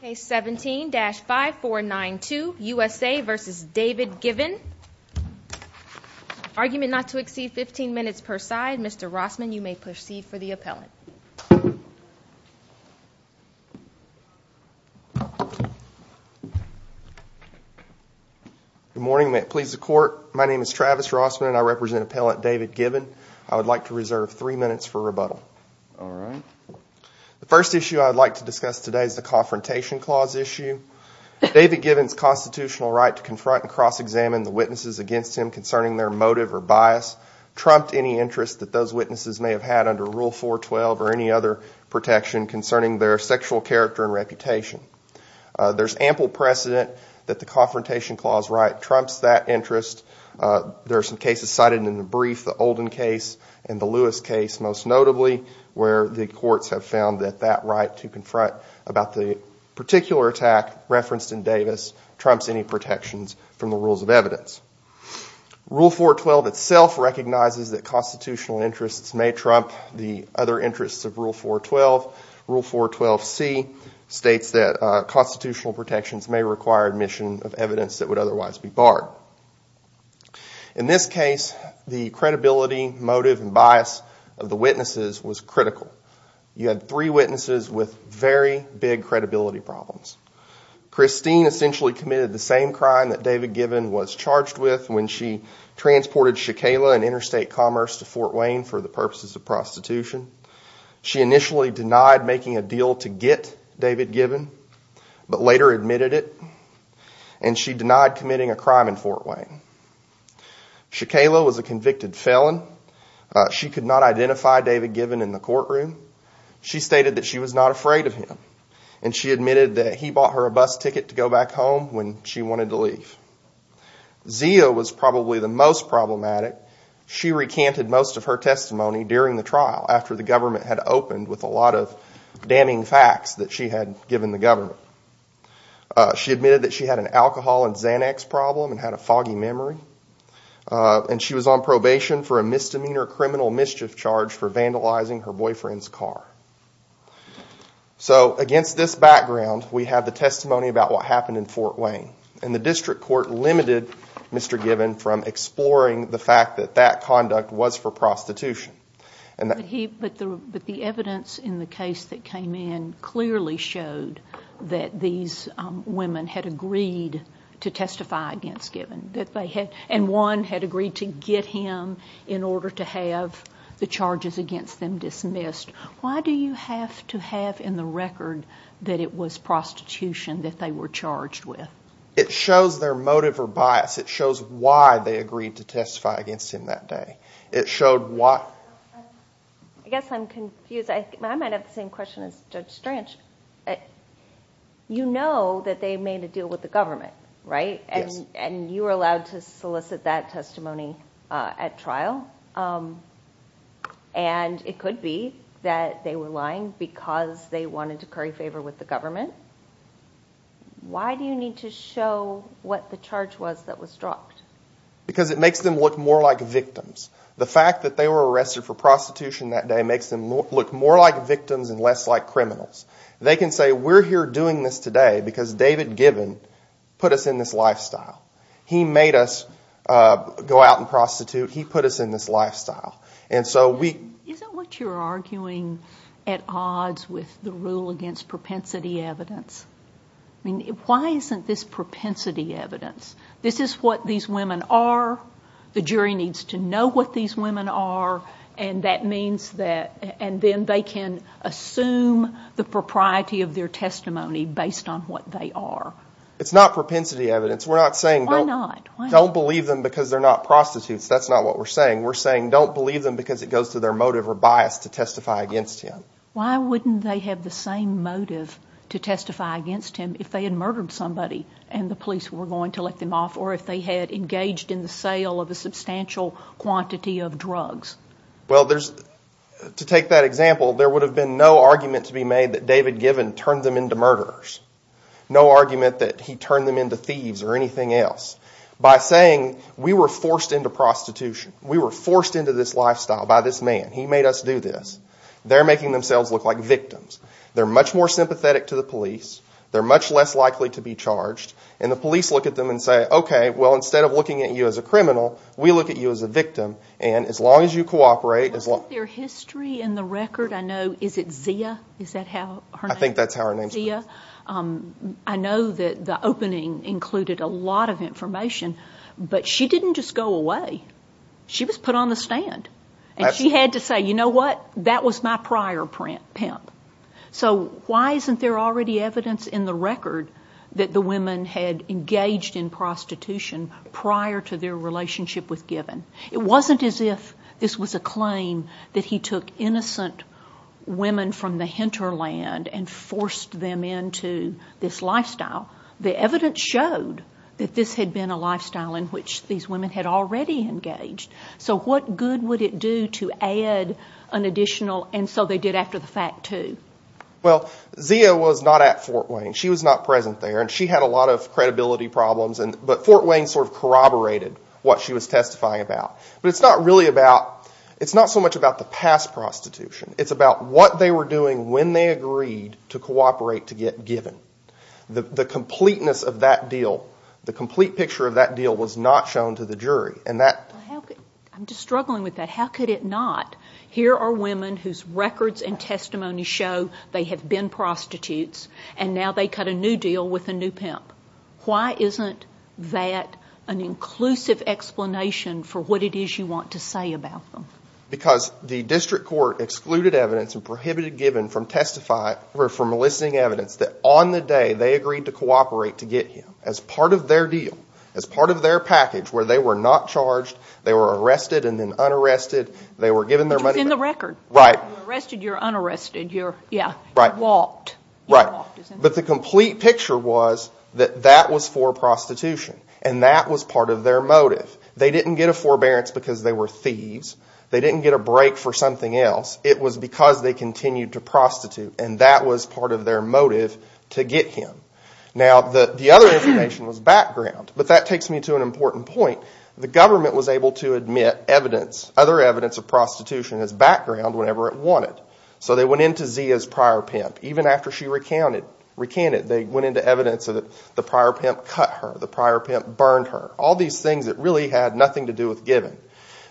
Case 17-5492, USA v. David Givhan Argument not to exceed 15 minutes per side. Mr. Rossman, you may proceed for the appellant. Good morning. May it please the Court, my name is Travis Rossman and I represent appellant David Givhan. I would like to reserve three minutes for rebuttal. The first issue I would like to discuss today is the Confrontation Clause issue. David Givhan's constitutional right to confront and cross-examine the witnesses against him concerning their motive or bias trumped any interest that those witnesses may have had under Rule 412 or any other protection concerning their sexual character and reputation. There is ample precedent that the Confrontation Clause right trumps that interest. There are some cases cited in the brief, the Olden case and the Lewis case most notably, where the courts have found that that right to confront about the particular attack referenced in Davis trumps any protections from the rules of evidence. Rule 412 itself recognizes that constitutional interests may trump the other interests of Rule 412. Rule 412C states that constitutional protections may require admission of evidence that would otherwise be barred. In this case, the credibility, motive and bias of the witnesses was critical. You had three witnesses with very big credibility problems. Christine essentially committed the same crime that David Givhan was charged with when she transported Shakela and Interstate Commerce to Fort Wayne for the purposes of prostitution. She initially denied making a deal to get David Givhan, but later admitted it, and she denied committing a crime in Fort Wayne. Shakela was a convicted felon. She could not identify David Givhan in the courtroom. She stated that she was not afraid of him, and she admitted that he bought her a bus ticket to go back home when she wanted to leave. Zia was probably the most problematic. She recanted most of her testimony during the trial after the government had opened with a lot of damning facts that she had given the government. She admitted that she had an alcohol and Xanax problem and had a foggy memory, and she was on probation for a misdemeanor criminal mischief charge for vandalizing her boyfriend's car. Against this background, we have the testimony about what happened in Fort Wayne. The district court limited Mr. Givhan from exploring the fact that that conduct was for prostitution. But the evidence in the case that came in clearly showed that these women had agreed to testify against Givhan, and one had agreed to get him in order to have the charges against them dismissed. Why do you have to have in the record that it was prostitution that they were charged with? It shows their motive or bias. It shows why they agreed to testify against him that day. I guess I'm confused. I might have the same question as Judge Stranch. You know that they made a deal with the government, right? And you were allowed to solicit that testimony at trial. And it could be that they were lying because they wanted to curry favor with the government. Why do you need to show what the charge was that was dropped? Because it makes them look more like victims. The fact that they were arrested for prostitution that day makes them look more like victims and less like criminals. They can say, we're here doing this today because David Givhan put us in this lifestyle. He made us go out and prostitute. He put us in this lifestyle. Isn't what you're arguing at odds with the rule against propensity evidence? Why isn't this propensity evidence? This is what these women are. The jury needs to know what these women are. And then they can assume the propriety of their testimony based on what they are. It's not propensity evidence. We're not saying don't believe them because they're not prostitutes. That's not what we're saying. We're saying don't believe them because it goes to their motive or bias to testify against him. Why wouldn't they have the same motive to testify against him if they had murdered somebody and the police were going to let them off? Or if they had engaged in the sale of a substantial quantity of drugs? Well, to take that example, there would have been no argument to be made that David Givhan turned them into murderers. No argument that he turned them into thieves or anything else. By saying we were forced into prostitution, we were forced into this lifestyle by this man, he made us do this, they're making themselves look like victims. They're much more sympathetic to the police. They're much less likely to be charged. And the police look at them and say, okay, well, instead of looking at you as a criminal, we look at you as a victim. And as long as you cooperate... Is that their history in the record? Is it Zia? I think that's how her name's put. I know that the opening included a lot of information, but she didn't just go away. She was put on the stand. And she had to say, you know what, that was my prior pimp. So why isn't there already evidence in the record that the women had engaged in prostitution prior to their relationship with Givhan? It wasn't as if this was a claim that he took innocent women from the hinterland and forced them into this lifestyle. The evidence showed that this had been a lifestyle in which these women had already engaged. So what good would it do to add an additional, and so they did after the fact, too? Well, Zia was not at Fort Wayne. She was not present there. And she had a lot of credibility problems. But Fort Wayne sort of corroborated what she was testifying about. But it's not so much about the past prostitution. It's about what they were doing when they agreed to cooperate to get Givhan. The completeness of that deal, the complete picture of that deal was not shown to the jury. I'm just struggling with that. How could it not? Here are women whose records and testimony show they have been prostitutes, and now they cut a new deal with a new pimp. Why isn't that an inclusive explanation for what it is you want to say about them? Because the district court excluded evidence and prohibited Givhan from listing evidence that on the day they agreed to cooperate to get him. As part of their deal, as part of their package, where they were not charged, they were arrested and then unarrested. They were given their money back. But the complete picture was that that was for prostitution, and that was part of their motive. They didn't get a forbearance because they were thieves. They didn't get a break for something else. It was because they continued to prostitute, and that was part of their motive to get him. Now, the other information was background, but that takes me to an important point. The government was able to admit other evidence of prostitution as background whenever it wanted. So they went into Zia's prior pimp. Even after she recanted, they went into evidence that the prior pimp cut her, the prior pimp burned her, all these things that really had nothing to do with Givhan.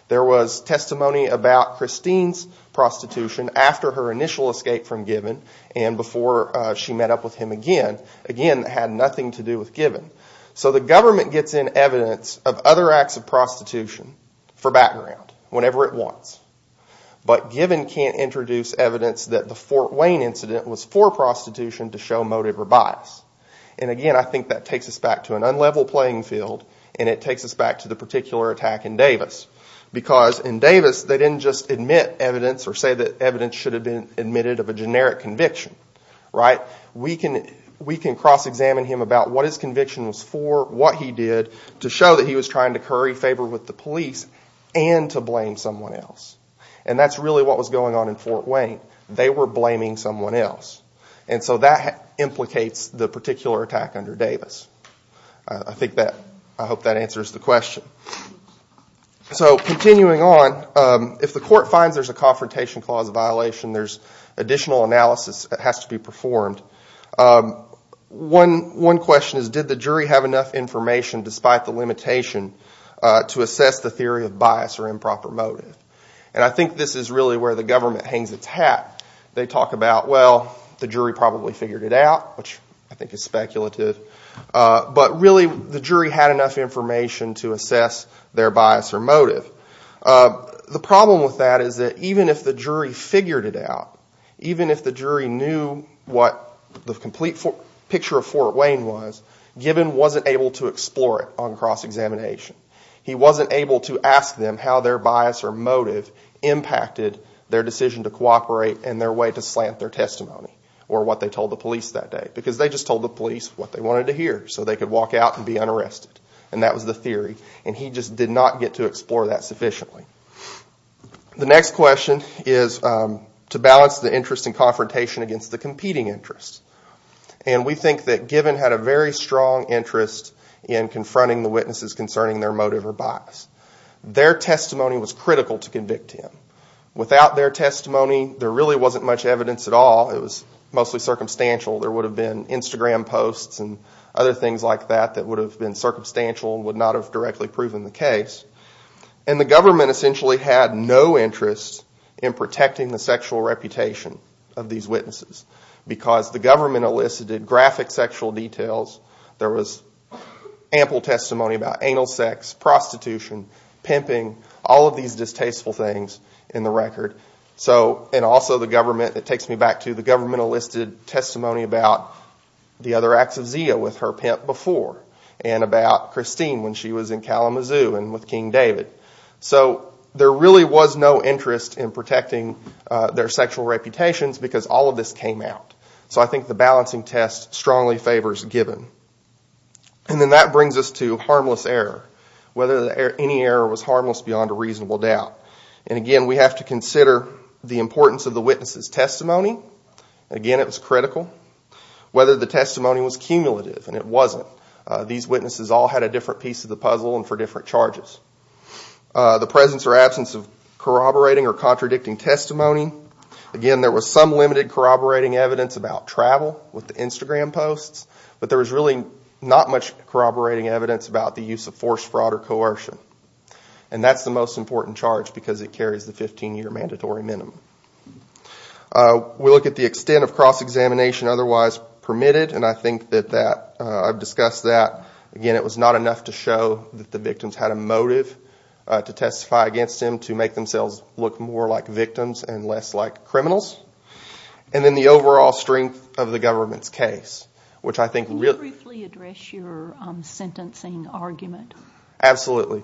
There was testimony about Christine's prostitution after her initial escape from Givhan, and before she met up with him again, again, that had nothing to do with Givhan. So the government gets in evidence of other acts of prostitution for background whenever it wants. But Givhan can't introduce evidence that the Fort Wayne incident was for prostitution to show motive or bias. And again, I think that takes us back to an unlevel playing field, and it takes us back to the particular attack in Davis. Because in Davis, they didn't just admit evidence or say that evidence should have been admitted of a generic conviction. We can cross-examine him about what his conviction was for, what he did, to show that he was trying to curry favor with the police and to blame someone else. And that's really what was going on in Fort Wayne. They were blaming someone else. And so that implicates the particular attack under Davis. I hope that answers the question. So continuing on, if the court finds there's a confrontation clause violation, there's additional analysis that has to be performed. One question is, did the jury have enough information, despite the limitation, to assess the theory of bias or improper motive? And I think this is really where the government hangs its hat. They talk about, well, the jury probably figured it out, which I think is speculative. But really, the jury had enough information to assess their bias or motive. The problem with that is that even if the jury figured it out, even if the jury knew what the complete picture of Fort Wayne was, Givhan wasn't able to explore it on cross-examination. And that really impacted their decision to cooperate and their way to slant their testimony or what they told the police that day. Because they just told the police what they wanted to hear so they could walk out and be unarrested. And that was the theory. And he just did not get to explore that sufficiently. The next question is to balance the interest in confrontation against the competing interest. And we think that Givhan had a very strong interest in confronting the witnesses concerning their motive or bias. Their testimony was critical to convict him. Without their testimony, there really wasn't much evidence at all. It was mostly circumstantial. There would have been Instagram posts and other things like that that would have been circumstantial and would not have directly proven the case. And the government essentially had no interest in protecting the sexual reputation of these witnesses. Because the government elicited graphic sexual details. There was ample testimony about anal sex, prostitution, pimping, all of these distasteful things in the record. And also the government, it takes me back to the government elicited testimony about the other acts of Zia with her pimp before. And about Christine when she was in Kalamazoo and with King David. So there really was no interest in protecting their sexual reputations because all of this came out. So I think the balancing test strongly favors Givhan. And then that brings us to harmless error. Whether any error was harmless beyond a reasonable doubt. And again, we have to consider the importance of the witness's testimony. Again, it was critical. Whether the testimony was cumulative, and it wasn't. These witnesses all had a different piece of the puzzle and for different charges. The presence or absence of corroborating or contradicting testimony. Again, there was some limited corroborating evidence about travel with the Instagram posts. But there was really not much corroborating evidence about the use of forced fraud or coercion. And that's the most important charge because it carries the 15-year mandatory minimum. We look at the extent of cross-examination otherwise permitted, and I think that I've discussed that. Again, it was not enough to show that the victims had a motive to testify against him to make themselves look more like victims and less like criminals. And then the overall strength of the government's case. Can you briefly address your sentencing argument? Absolutely.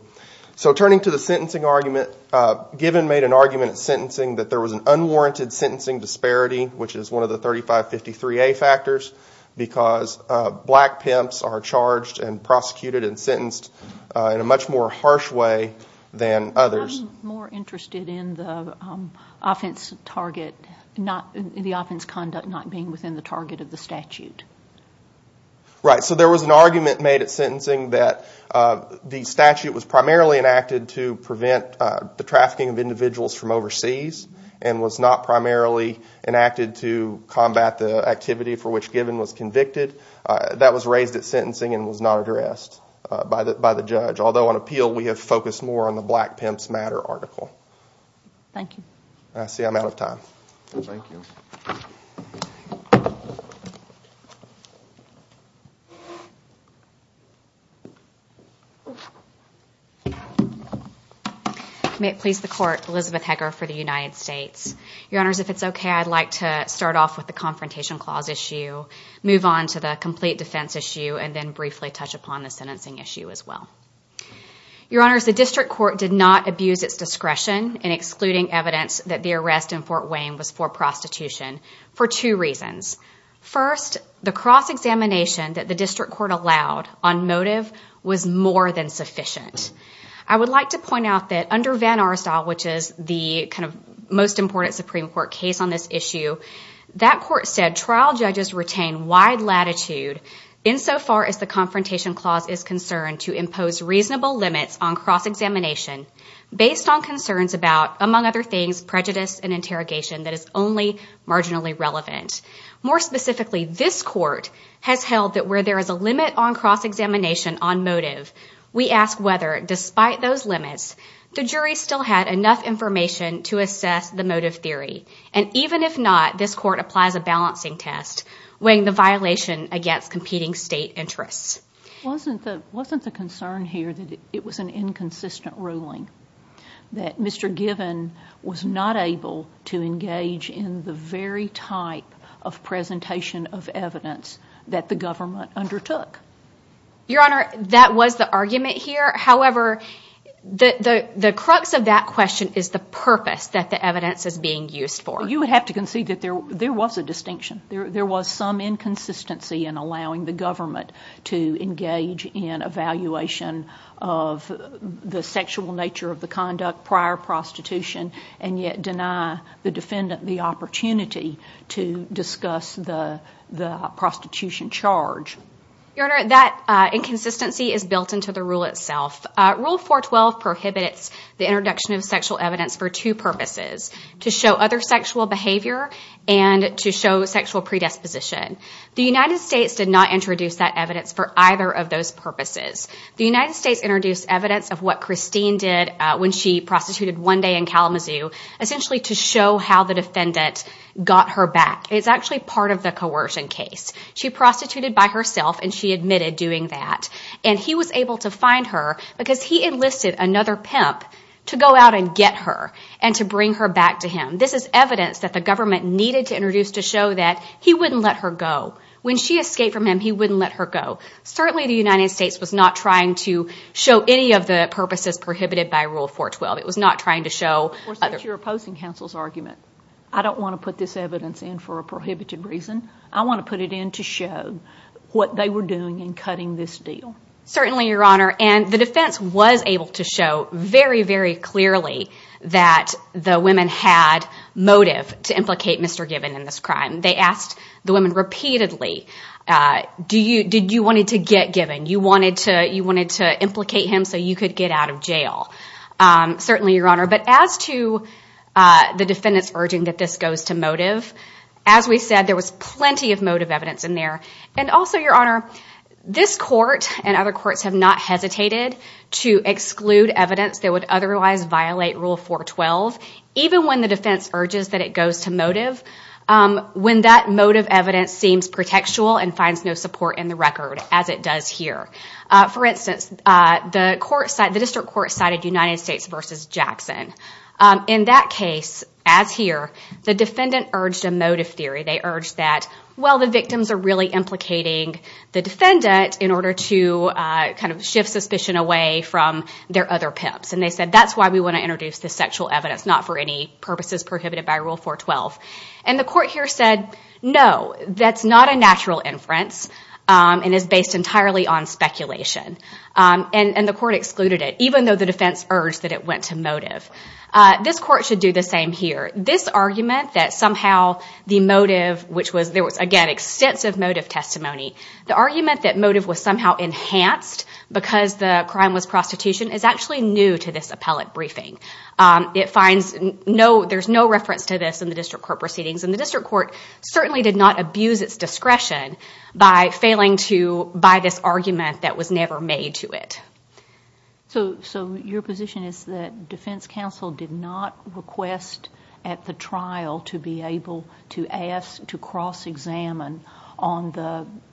So turning to the sentencing argument, Givhan made an argument at sentencing that there was an unwarranted sentencing disparity, which is one of the 3553A factors, because black pimps are charged and prosecuted and sentenced in a much more harsh way than others. I'm more interested in the offense target, the offense conduct not being within the target of the statute. Right. So there was an argument made at sentencing that the statute was primarily enacted to prevent the trafficking of individuals from overseas, and was not primarily enacted to combat the activity for which Givhan was convicted. That was raised at sentencing and was not addressed by the judge, although on appeal we have focused more on the black pimps matter article. Thank you. I see I'm out of time. Thank you. May it please the court, Elizabeth Heger for the United States. Your honors, if it's okay, I'd like to start off with the confrontation clause issue, move on to the complete defense issue, and then briefly touch upon the sentencing issue as well. Your honors, the district court did not abuse its discretion in excluding evidence that the arrest in Fort Wayne was for prostitution for two reasons. First, the cross-examination that the district court allowed on motive was more than sufficient. I would like to point out that under Van Arstyle, which is the kind of most important Supreme Court case on this issue, that court said trial judges retain wide latitude insofar as the confrontation clause is concerned to impose reasonable limits on cross-examination, based on concerns about, among other things, prejudice and interrogation that is only marginally relevant. More specifically, this court has held that where there is a limit on cross-examination on motive, we ask whether, despite those limits, the jury still had enough information to assess the motive theory, and even if not, this court applies a balancing test weighing the violation against competing state interests. Wasn't the concern here that it was an inconsistent ruling, that Mr. Given was not able to engage in the very type of presentation of evidence that the government undertook? Your honor, that was the argument here. However, the crux of that question is the purpose that the evidence is being used for. You would have to concede that there was a distinction. There was some inconsistency in allowing the government to engage in evaluation of the sexual nature of the conduct prior to prostitution, and yet deny the defendant the opportunity to discuss the prostitution charge. Your honor, that inconsistency is built into the rule itself. Rule 412 prohibits the introduction of sexual evidence for two purposes, to show other sexual behavior and to show sexual predisposition. The United States did not introduce that evidence for either of those purposes. The United States introduced evidence of what Christine did when she prostituted one day in Kalamazoo, essentially to show how the defendant got her back. It's actually part of the coercion case. She prostituted by herself and she admitted doing that, and he was able to find her because he enlisted another pimp to go out and get her and to bring her back to him. This is evidence that the government needed to introduce to show that he wouldn't let her go. When she escaped from him, he wouldn't let her go. Certainly the United States was not trying to show any of the purposes prohibited by Rule 412. I don't want to put this evidence in for a prohibited reason. I want to put it in to show what they were doing in cutting this deal. The defense was able to show very, very clearly that the women had motive to implicate Mr. Given in this crime. They asked the women repeatedly, did you want to get Given? You wanted to implicate him so you could get out of jail? As to the defendants urging that this goes to motive, as we said, there was plenty of motive evidence in there. This court and other courts have not hesitated to exclude evidence that would otherwise violate Rule 412. Even when the defense urges that it goes to motive, when that motive evidence seems pretextual and finds no support in the record, as it does here. For instance, the district court cited United States v. Jackson. In that case, as here, the defendant urged a motive theory. They urged that the victims are really implicating the defendant in order to shift suspicion away from their other pimps. They said, that's why we want to introduce this sexual evidence, not for any purposes prohibited by Rule 412. The court here said, no, that's not a natural inference and is based entirely on speculation. The court excluded it, even though the defense urged that it went to motive. This court should do the same here. This argument that somehow the motive, which was, again, extensive motive testimony, the argument that motive was somehow enhanced because the crime was prostitution is actually new to this appellate briefing. There's no reference to this in the district court proceedings. The district court certainly did not abuse its discretion by failing to buy this argument that was never made to it. So your position is that defense counsel did not request at the trial to be able to ask to cross-examine on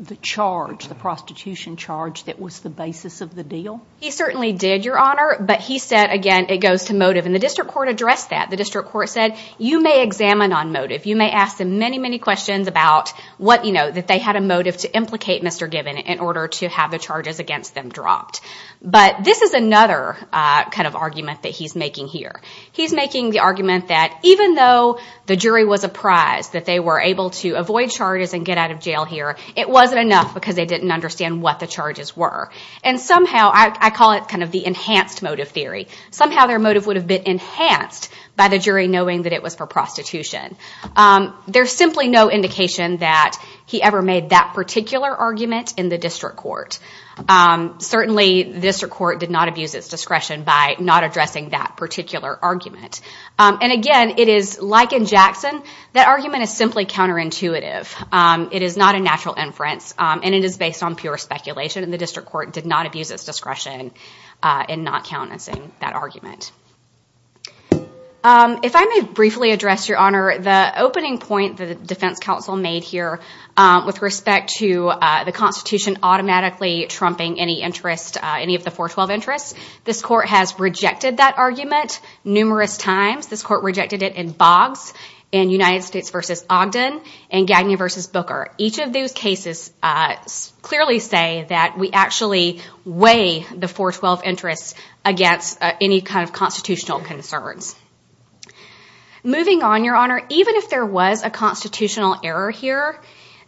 the charge, the prostitution charge that was the basis of the deal? He certainly did, Your Honor, but he said, again, it goes to motive. And the district court addressed that. The district court said, you may examine on motive. You may ask them many, many questions about that they had a motive to implicate Mr. Gibbon in order to have the charges against them dropped. But this is another kind of argument that he's making here. He's making the argument that even though the jury was apprised that they were able to avoid charges and get out of jail here, it wasn't enough because they didn't understand what the charges were. And somehow, I call it kind of the enhanced motive theory, somehow their motive would have been enhanced by the jury knowing that it was for prostitution. There's simply no indication that he ever made that particular argument in the district court. Certainly, the district court did not abuse its discretion by not addressing that particular argument. And again, it is like in Jackson. That argument is simply counterintuitive. It is not a natural inference, and it is based on pure speculation. And the district court did not abuse its discretion in not countenancing that argument. If I may briefly address, Your Honor, the opening point that the defense counsel made here with respect to the Constitution automatically trumping any interest, any of the 412 interests. This court has rejected that argument numerous times. This court rejected it in Boggs, in United States v. Ogden, and Gagney v. Booker. Each of those cases clearly say that we actually weigh the 412 interests against any kind of constitutional concerns. Moving on, Your Honor, even if there was a constitutional error here,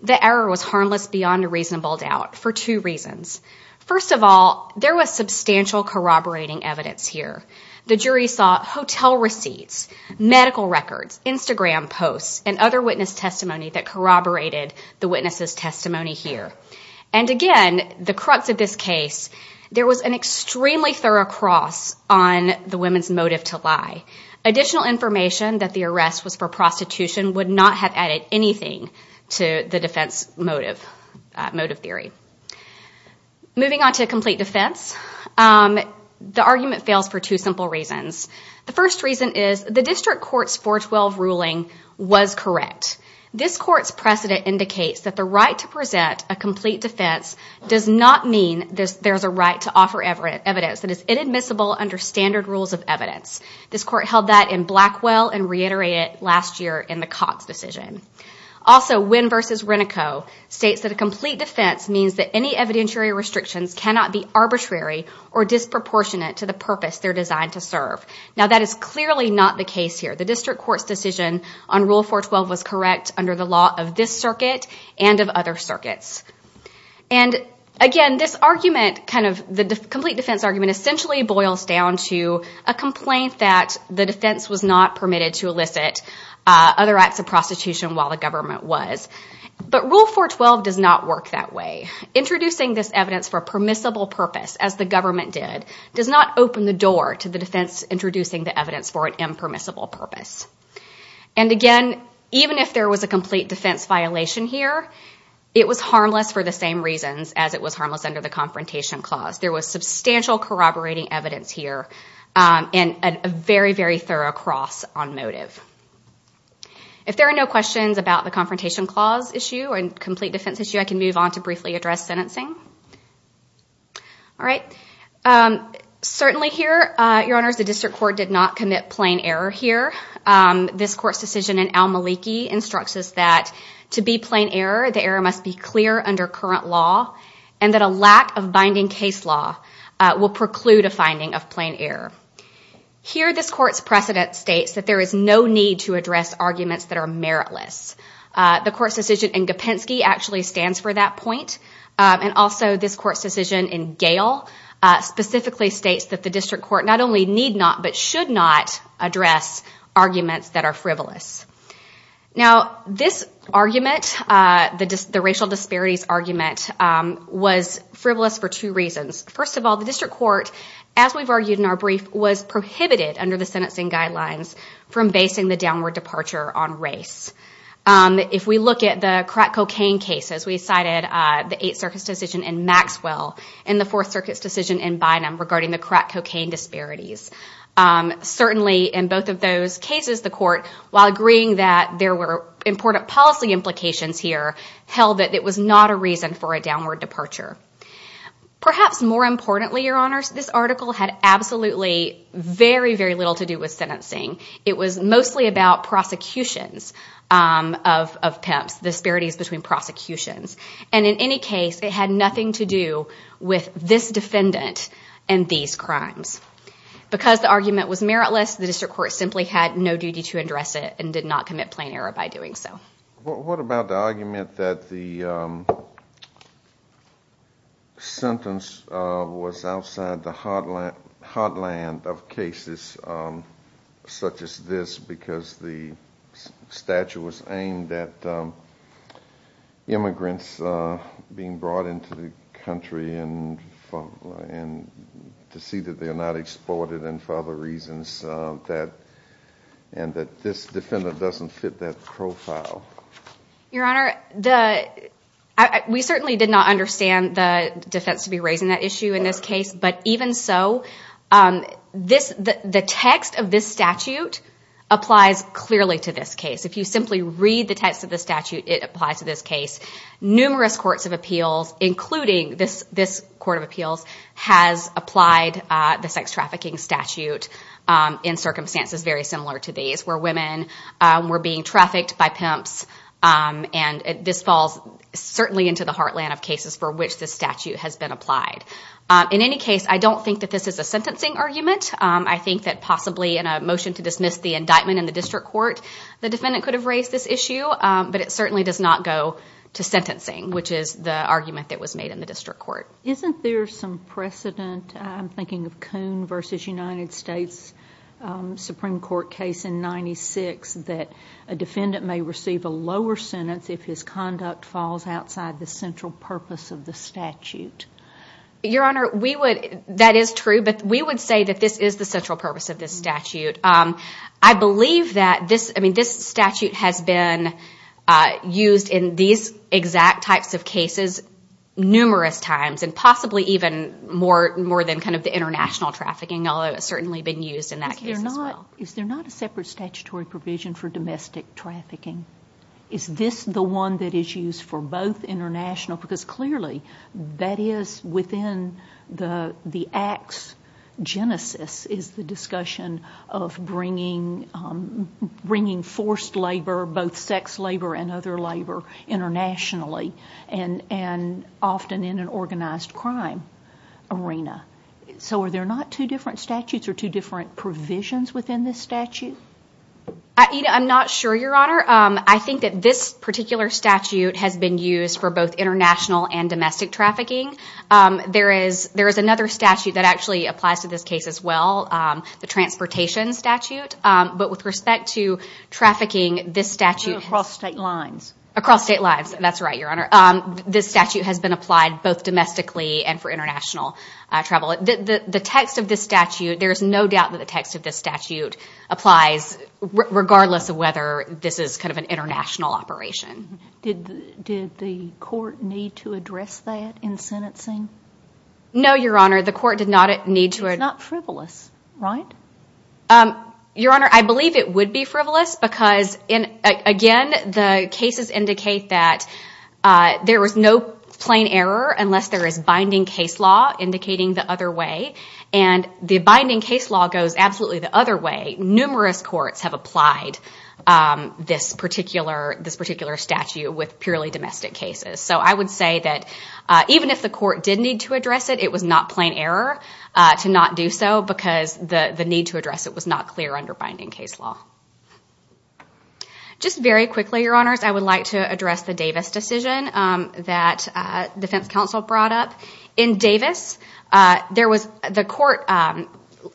the error was harmless beyond a reasonable doubt for two reasons. First of all, there was substantial corroborating evidence here. The jury saw hotel receipts, medical records, Instagram posts, and other witness testimony that corroborated the witness's testimony here. And again, the crux of this case, there was an extremely thorough cross on the women's motive to lie. Additional information that the arrest was for prostitution would not have added anything to the defense motive theory. Moving on to complete defense, the argument fails for two simple reasons. The first reason is the district court's 412 ruling was correct. This court's precedent indicates that the right to present a complete defense does not mean there is a right to offer evidence that is inadmissible under standard rules of evidence. This court held that in Blackwell and reiterated it last year in the Cox decision. Also, Winn v. Renico states that a complete defense means that any evidentiary restrictions cannot be arbitrary or disproportionate to the purpose they're designed to serve. Now that is clearly not the case here. The district court's decision on Rule 412 was correct under the law of this circuit and of other circuits. And again, this argument, the complete defense argument essentially boils down to a complaint that the defense was not permitted to elicit other acts of prostitution while the government was. But Rule 412 does not work that way. Introducing this evidence for a permissible purpose, as the government did, does not open the door to the defense introducing the evidence for an impermissible purpose. And again, even if there was a complete defense violation here, it was harmless for the same reasons as it was harmless under the Confrontation Clause. There was substantial corroborating evidence here and a very, very thorough cross on motive. If there are no questions about the Confrontation Clause issue or the complete defense issue, I can move on to briefly address sentencing. Certainly here, Your Honors, the district court did not commit plain error here. This court's decision in Al-Maliki instructs us that to be plain error, the error must be clear under current law and that a lack of binding case law will preclude a finding of plain error. Here, this court's precedent states that there is no need to address arguments that are meritless. The court's decision in Gopensky actually stands for that point, and also this court's decision in Gale specifically states that the district court not only need not, but should not address arguments that are frivolous. Now, this argument, the racial disparities argument, was frivolous for two reasons. First of all, the district court, as we've argued in our brief, was prohibited under the sentencing guidelines from basing the downward departure on race. If we look at the crack cocaine cases, we cited the Eighth Circuit's decision in Maxwell and the Fourth Circuit's decision in Bynum regarding the crack cocaine disparities. Certainly in both of those cases, the court, while agreeing that there were important policy implications here, held that it was not a reason for a downward departure. Perhaps more importantly, Your Honors, this article had absolutely very, very little to do with sentencing. It was mostly about prosecutions of pimps, disparities between prosecutions. And in any case, it had nothing to do with this defendant and these crimes. Because the argument was meritless, the district court simply had no duty to address it and did not commit plain error by doing so. What about the argument that the sentence was outside the heartland of cases such as this, because the statute was aimed at immigrants being brought into the country to see that they are not exported and for other reasons, and that this defendant doesn't fit that profile? Your Honor, we certainly did not understand the defense to be raising that issue in this case, but even so, the text of this statute applies clearly to this case. If you simply read the text of the statute, it applies to this case. This court of appeals has applied the sex trafficking statute in circumstances very similar to these, where women were being trafficked by pimps, and this falls certainly into the heartland of cases for which this statute has been applied. In any case, I don't think that this is a sentencing argument. I think that possibly in a motion to dismiss the indictment in the district court, the defendant could have raised this issue, but it certainly does not go to sentencing, which is the argument that was made in the district court. Isn't there some precedent, I'm thinking of Coon v. United States Supreme Court case in 1996, that a defendant may receive a lower sentence if his conduct falls outside the central purpose of the statute? Your Honor, that is true, but we would say that this is the central purpose of this statute. I believe that this statute has been used in these exact types of cases numerous times, and possibly even more than the international trafficking, although it's certainly been used in that case as well. Is there not a separate statutory provision for domestic trafficking? Is this the one that is used for both international, because clearly that is within the acts. Genesis is the discussion of bringing forced labor, both sex labor and other labor internationally, and often in an organized crime arena. So are there not two different statutes or two different provisions within this statute? I'm not sure, Your Honor. I think that this particular statute has been used for both international and domestic trafficking. There is another statute that actually applies to this case as well, the transportation statute, but with respect to trafficking, this statute... Across state lines. Across state lines, that's right, Your Honor. This statute has been applied both domestically and for international travel. The text of this statute, there is no doubt that the text of this statute applies, regardless of whether this is kind of an international operation. Did the court need to address that in sentencing? No, Your Honor. The court did not need to. It's not frivolous, right? Your Honor, I believe it would be frivolous because, again, the cases indicate that there is no plain error unless there is binding case law indicating the other way, and the binding case law goes absolutely the other way. Numerous courts have applied this particular statute with purely domestic cases. So I would say that even if the court did need to address it, it was not plain error to not do so because the need to address it was not clear under binding case law. Just very quickly, Your Honors, I would like to address the Davis decision that defense counsel brought up. In Davis, the court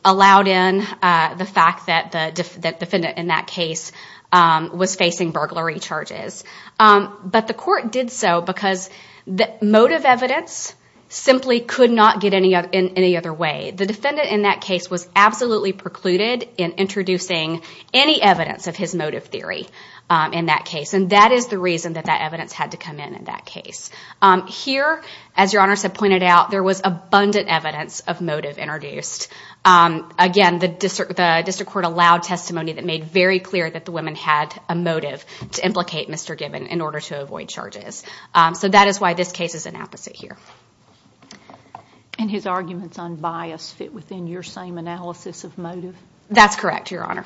allowed in the fact that the defendant in that case was facing burglary charges, but the court did so because motive evidence simply could not get in any other way. The defendant in that case was absolutely precluded in introducing any evidence of his motive theory in that case, and that is the reason that that evidence had to come in in that case. Here, as Your Honors have pointed out, there was abundant evidence of motive introduced. Again, the district court allowed testimony that made very clear that the women had a motive to implicate Mr. Gibbon in order to avoid charges. So that is why this case is an opposite here. And his arguments on bias fit within your same analysis of motive? That's correct, Your Honor.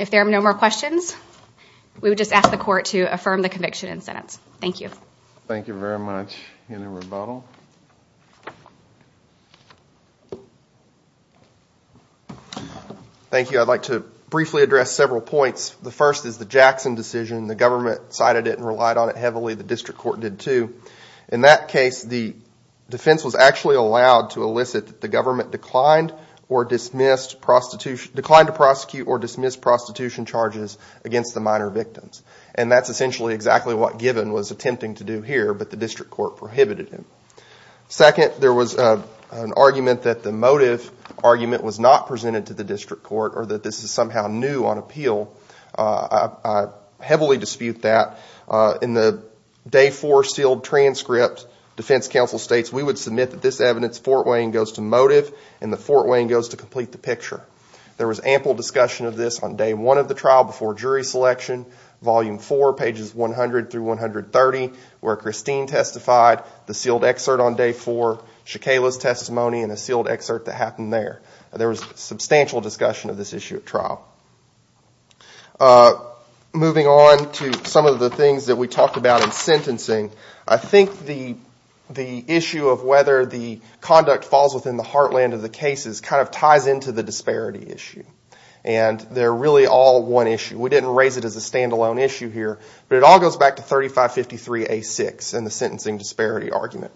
If there are no more questions, we would just ask the court to affirm the conviction and sentence. Thank you. Thank you very much. Any rebuttal? Thank you. I'd like to briefly address several points. The first is the Jackson decision. The government cited it and relied on it heavily. The district court did, too. In that case, the defense was actually allowed to elicit that the government declined to prosecute or dismiss prostitution charges against the minor victims. And that's essentially exactly what Gibbon was attempting to do here, but the district court prohibited him. Second, there was an argument that the motive argument was not presented to the district court or that this is somehow new on appeal. I heavily dispute that. In the day four sealed transcript, defense counsel states, we would submit that this evidence fortweighing goes to motive and the fortweighing goes to complete the picture. There was ample discussion of this on day one of the trial before jury selection, volume four, pages 100 through 130, where Christine testified, the sealed excerpt on day four, Shakala's testimony, and a sealed excerpt that happened there. There was substantial discussion of this issue at trial. Moving on to some of the things that we talked about in sentencing, I think the issue of whether the conduct falls within the heartland of the cases kind of ties into the disparity issue. And they're really all one issue. We didn't raise it as a standalone issue here, but it all goes back to 3553A6 and the sentencing disparity argument.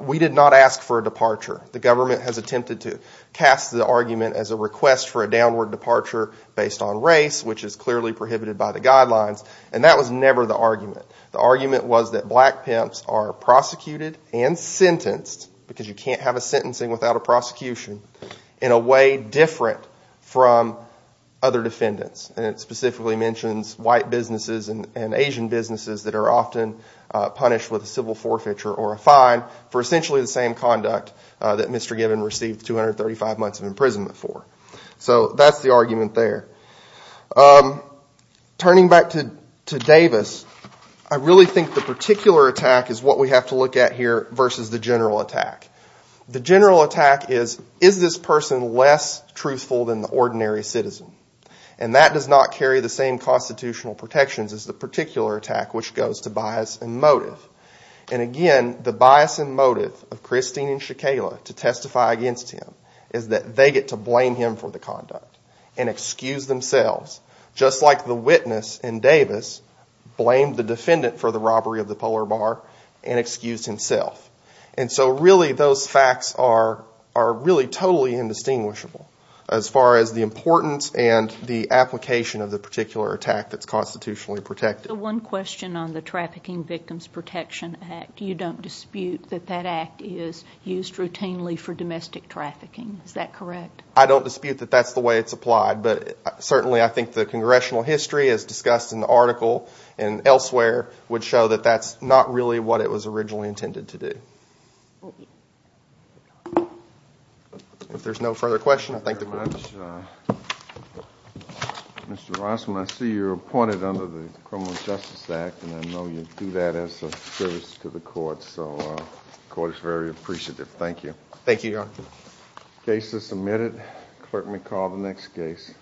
We did not ask for a departure. The government has attempted to cast the argument as a request for a downward departure based on race, which is clearly prohibited by the guidelines, and that was never the argument. The argument was that black pimps are prosecuted and sentenced, because you can't have a sentencing without a prosecution, in a way different from other defendants. And it specifically mentions white businesses and Asian businesses that are often punished with a civil forfeiture or a fine for essentially the same conduct that Mr. Gibbon received 235 months of imprisonment for. So that's the argument there. Turning back to Davis, I really think the particular attack is what we have to look at here versus the general attack. The general attack is, is this person less truthful than the ordinary citizen? And that does not carry the same constitutional protections as the particular attack, which goes to bias and motive. And again, the bias and motive of Christine and Shekayla to testify against him is that they get to blame him for the conduct and excuse themselves, just like the witness in Davis blamed the defendant for the robbery of the polar bar and excused himself. And so really those facts are really totally indistinguishable as far as the importance and the application of the particular attack that's constitutionally protected. So one question on the Trafficking Victims Protection Act. You don't dispute that that act is used routinely for domestic trafficking. Is that correct? I don't dispute that that's the way it's applied, but certainly I think the congressional history as discussed in the article and elsewhere would show that that's not really what it was originally intended to do. If there's no further questions, I thank you very much. Mr. Rossman, I see you're appointed under the Criminal Justice Act, and I know you do that as a service to the court, so the court is very appreciative. Thank you. Thank you, Your Honor. The case is submitted. The clerk may call the next case.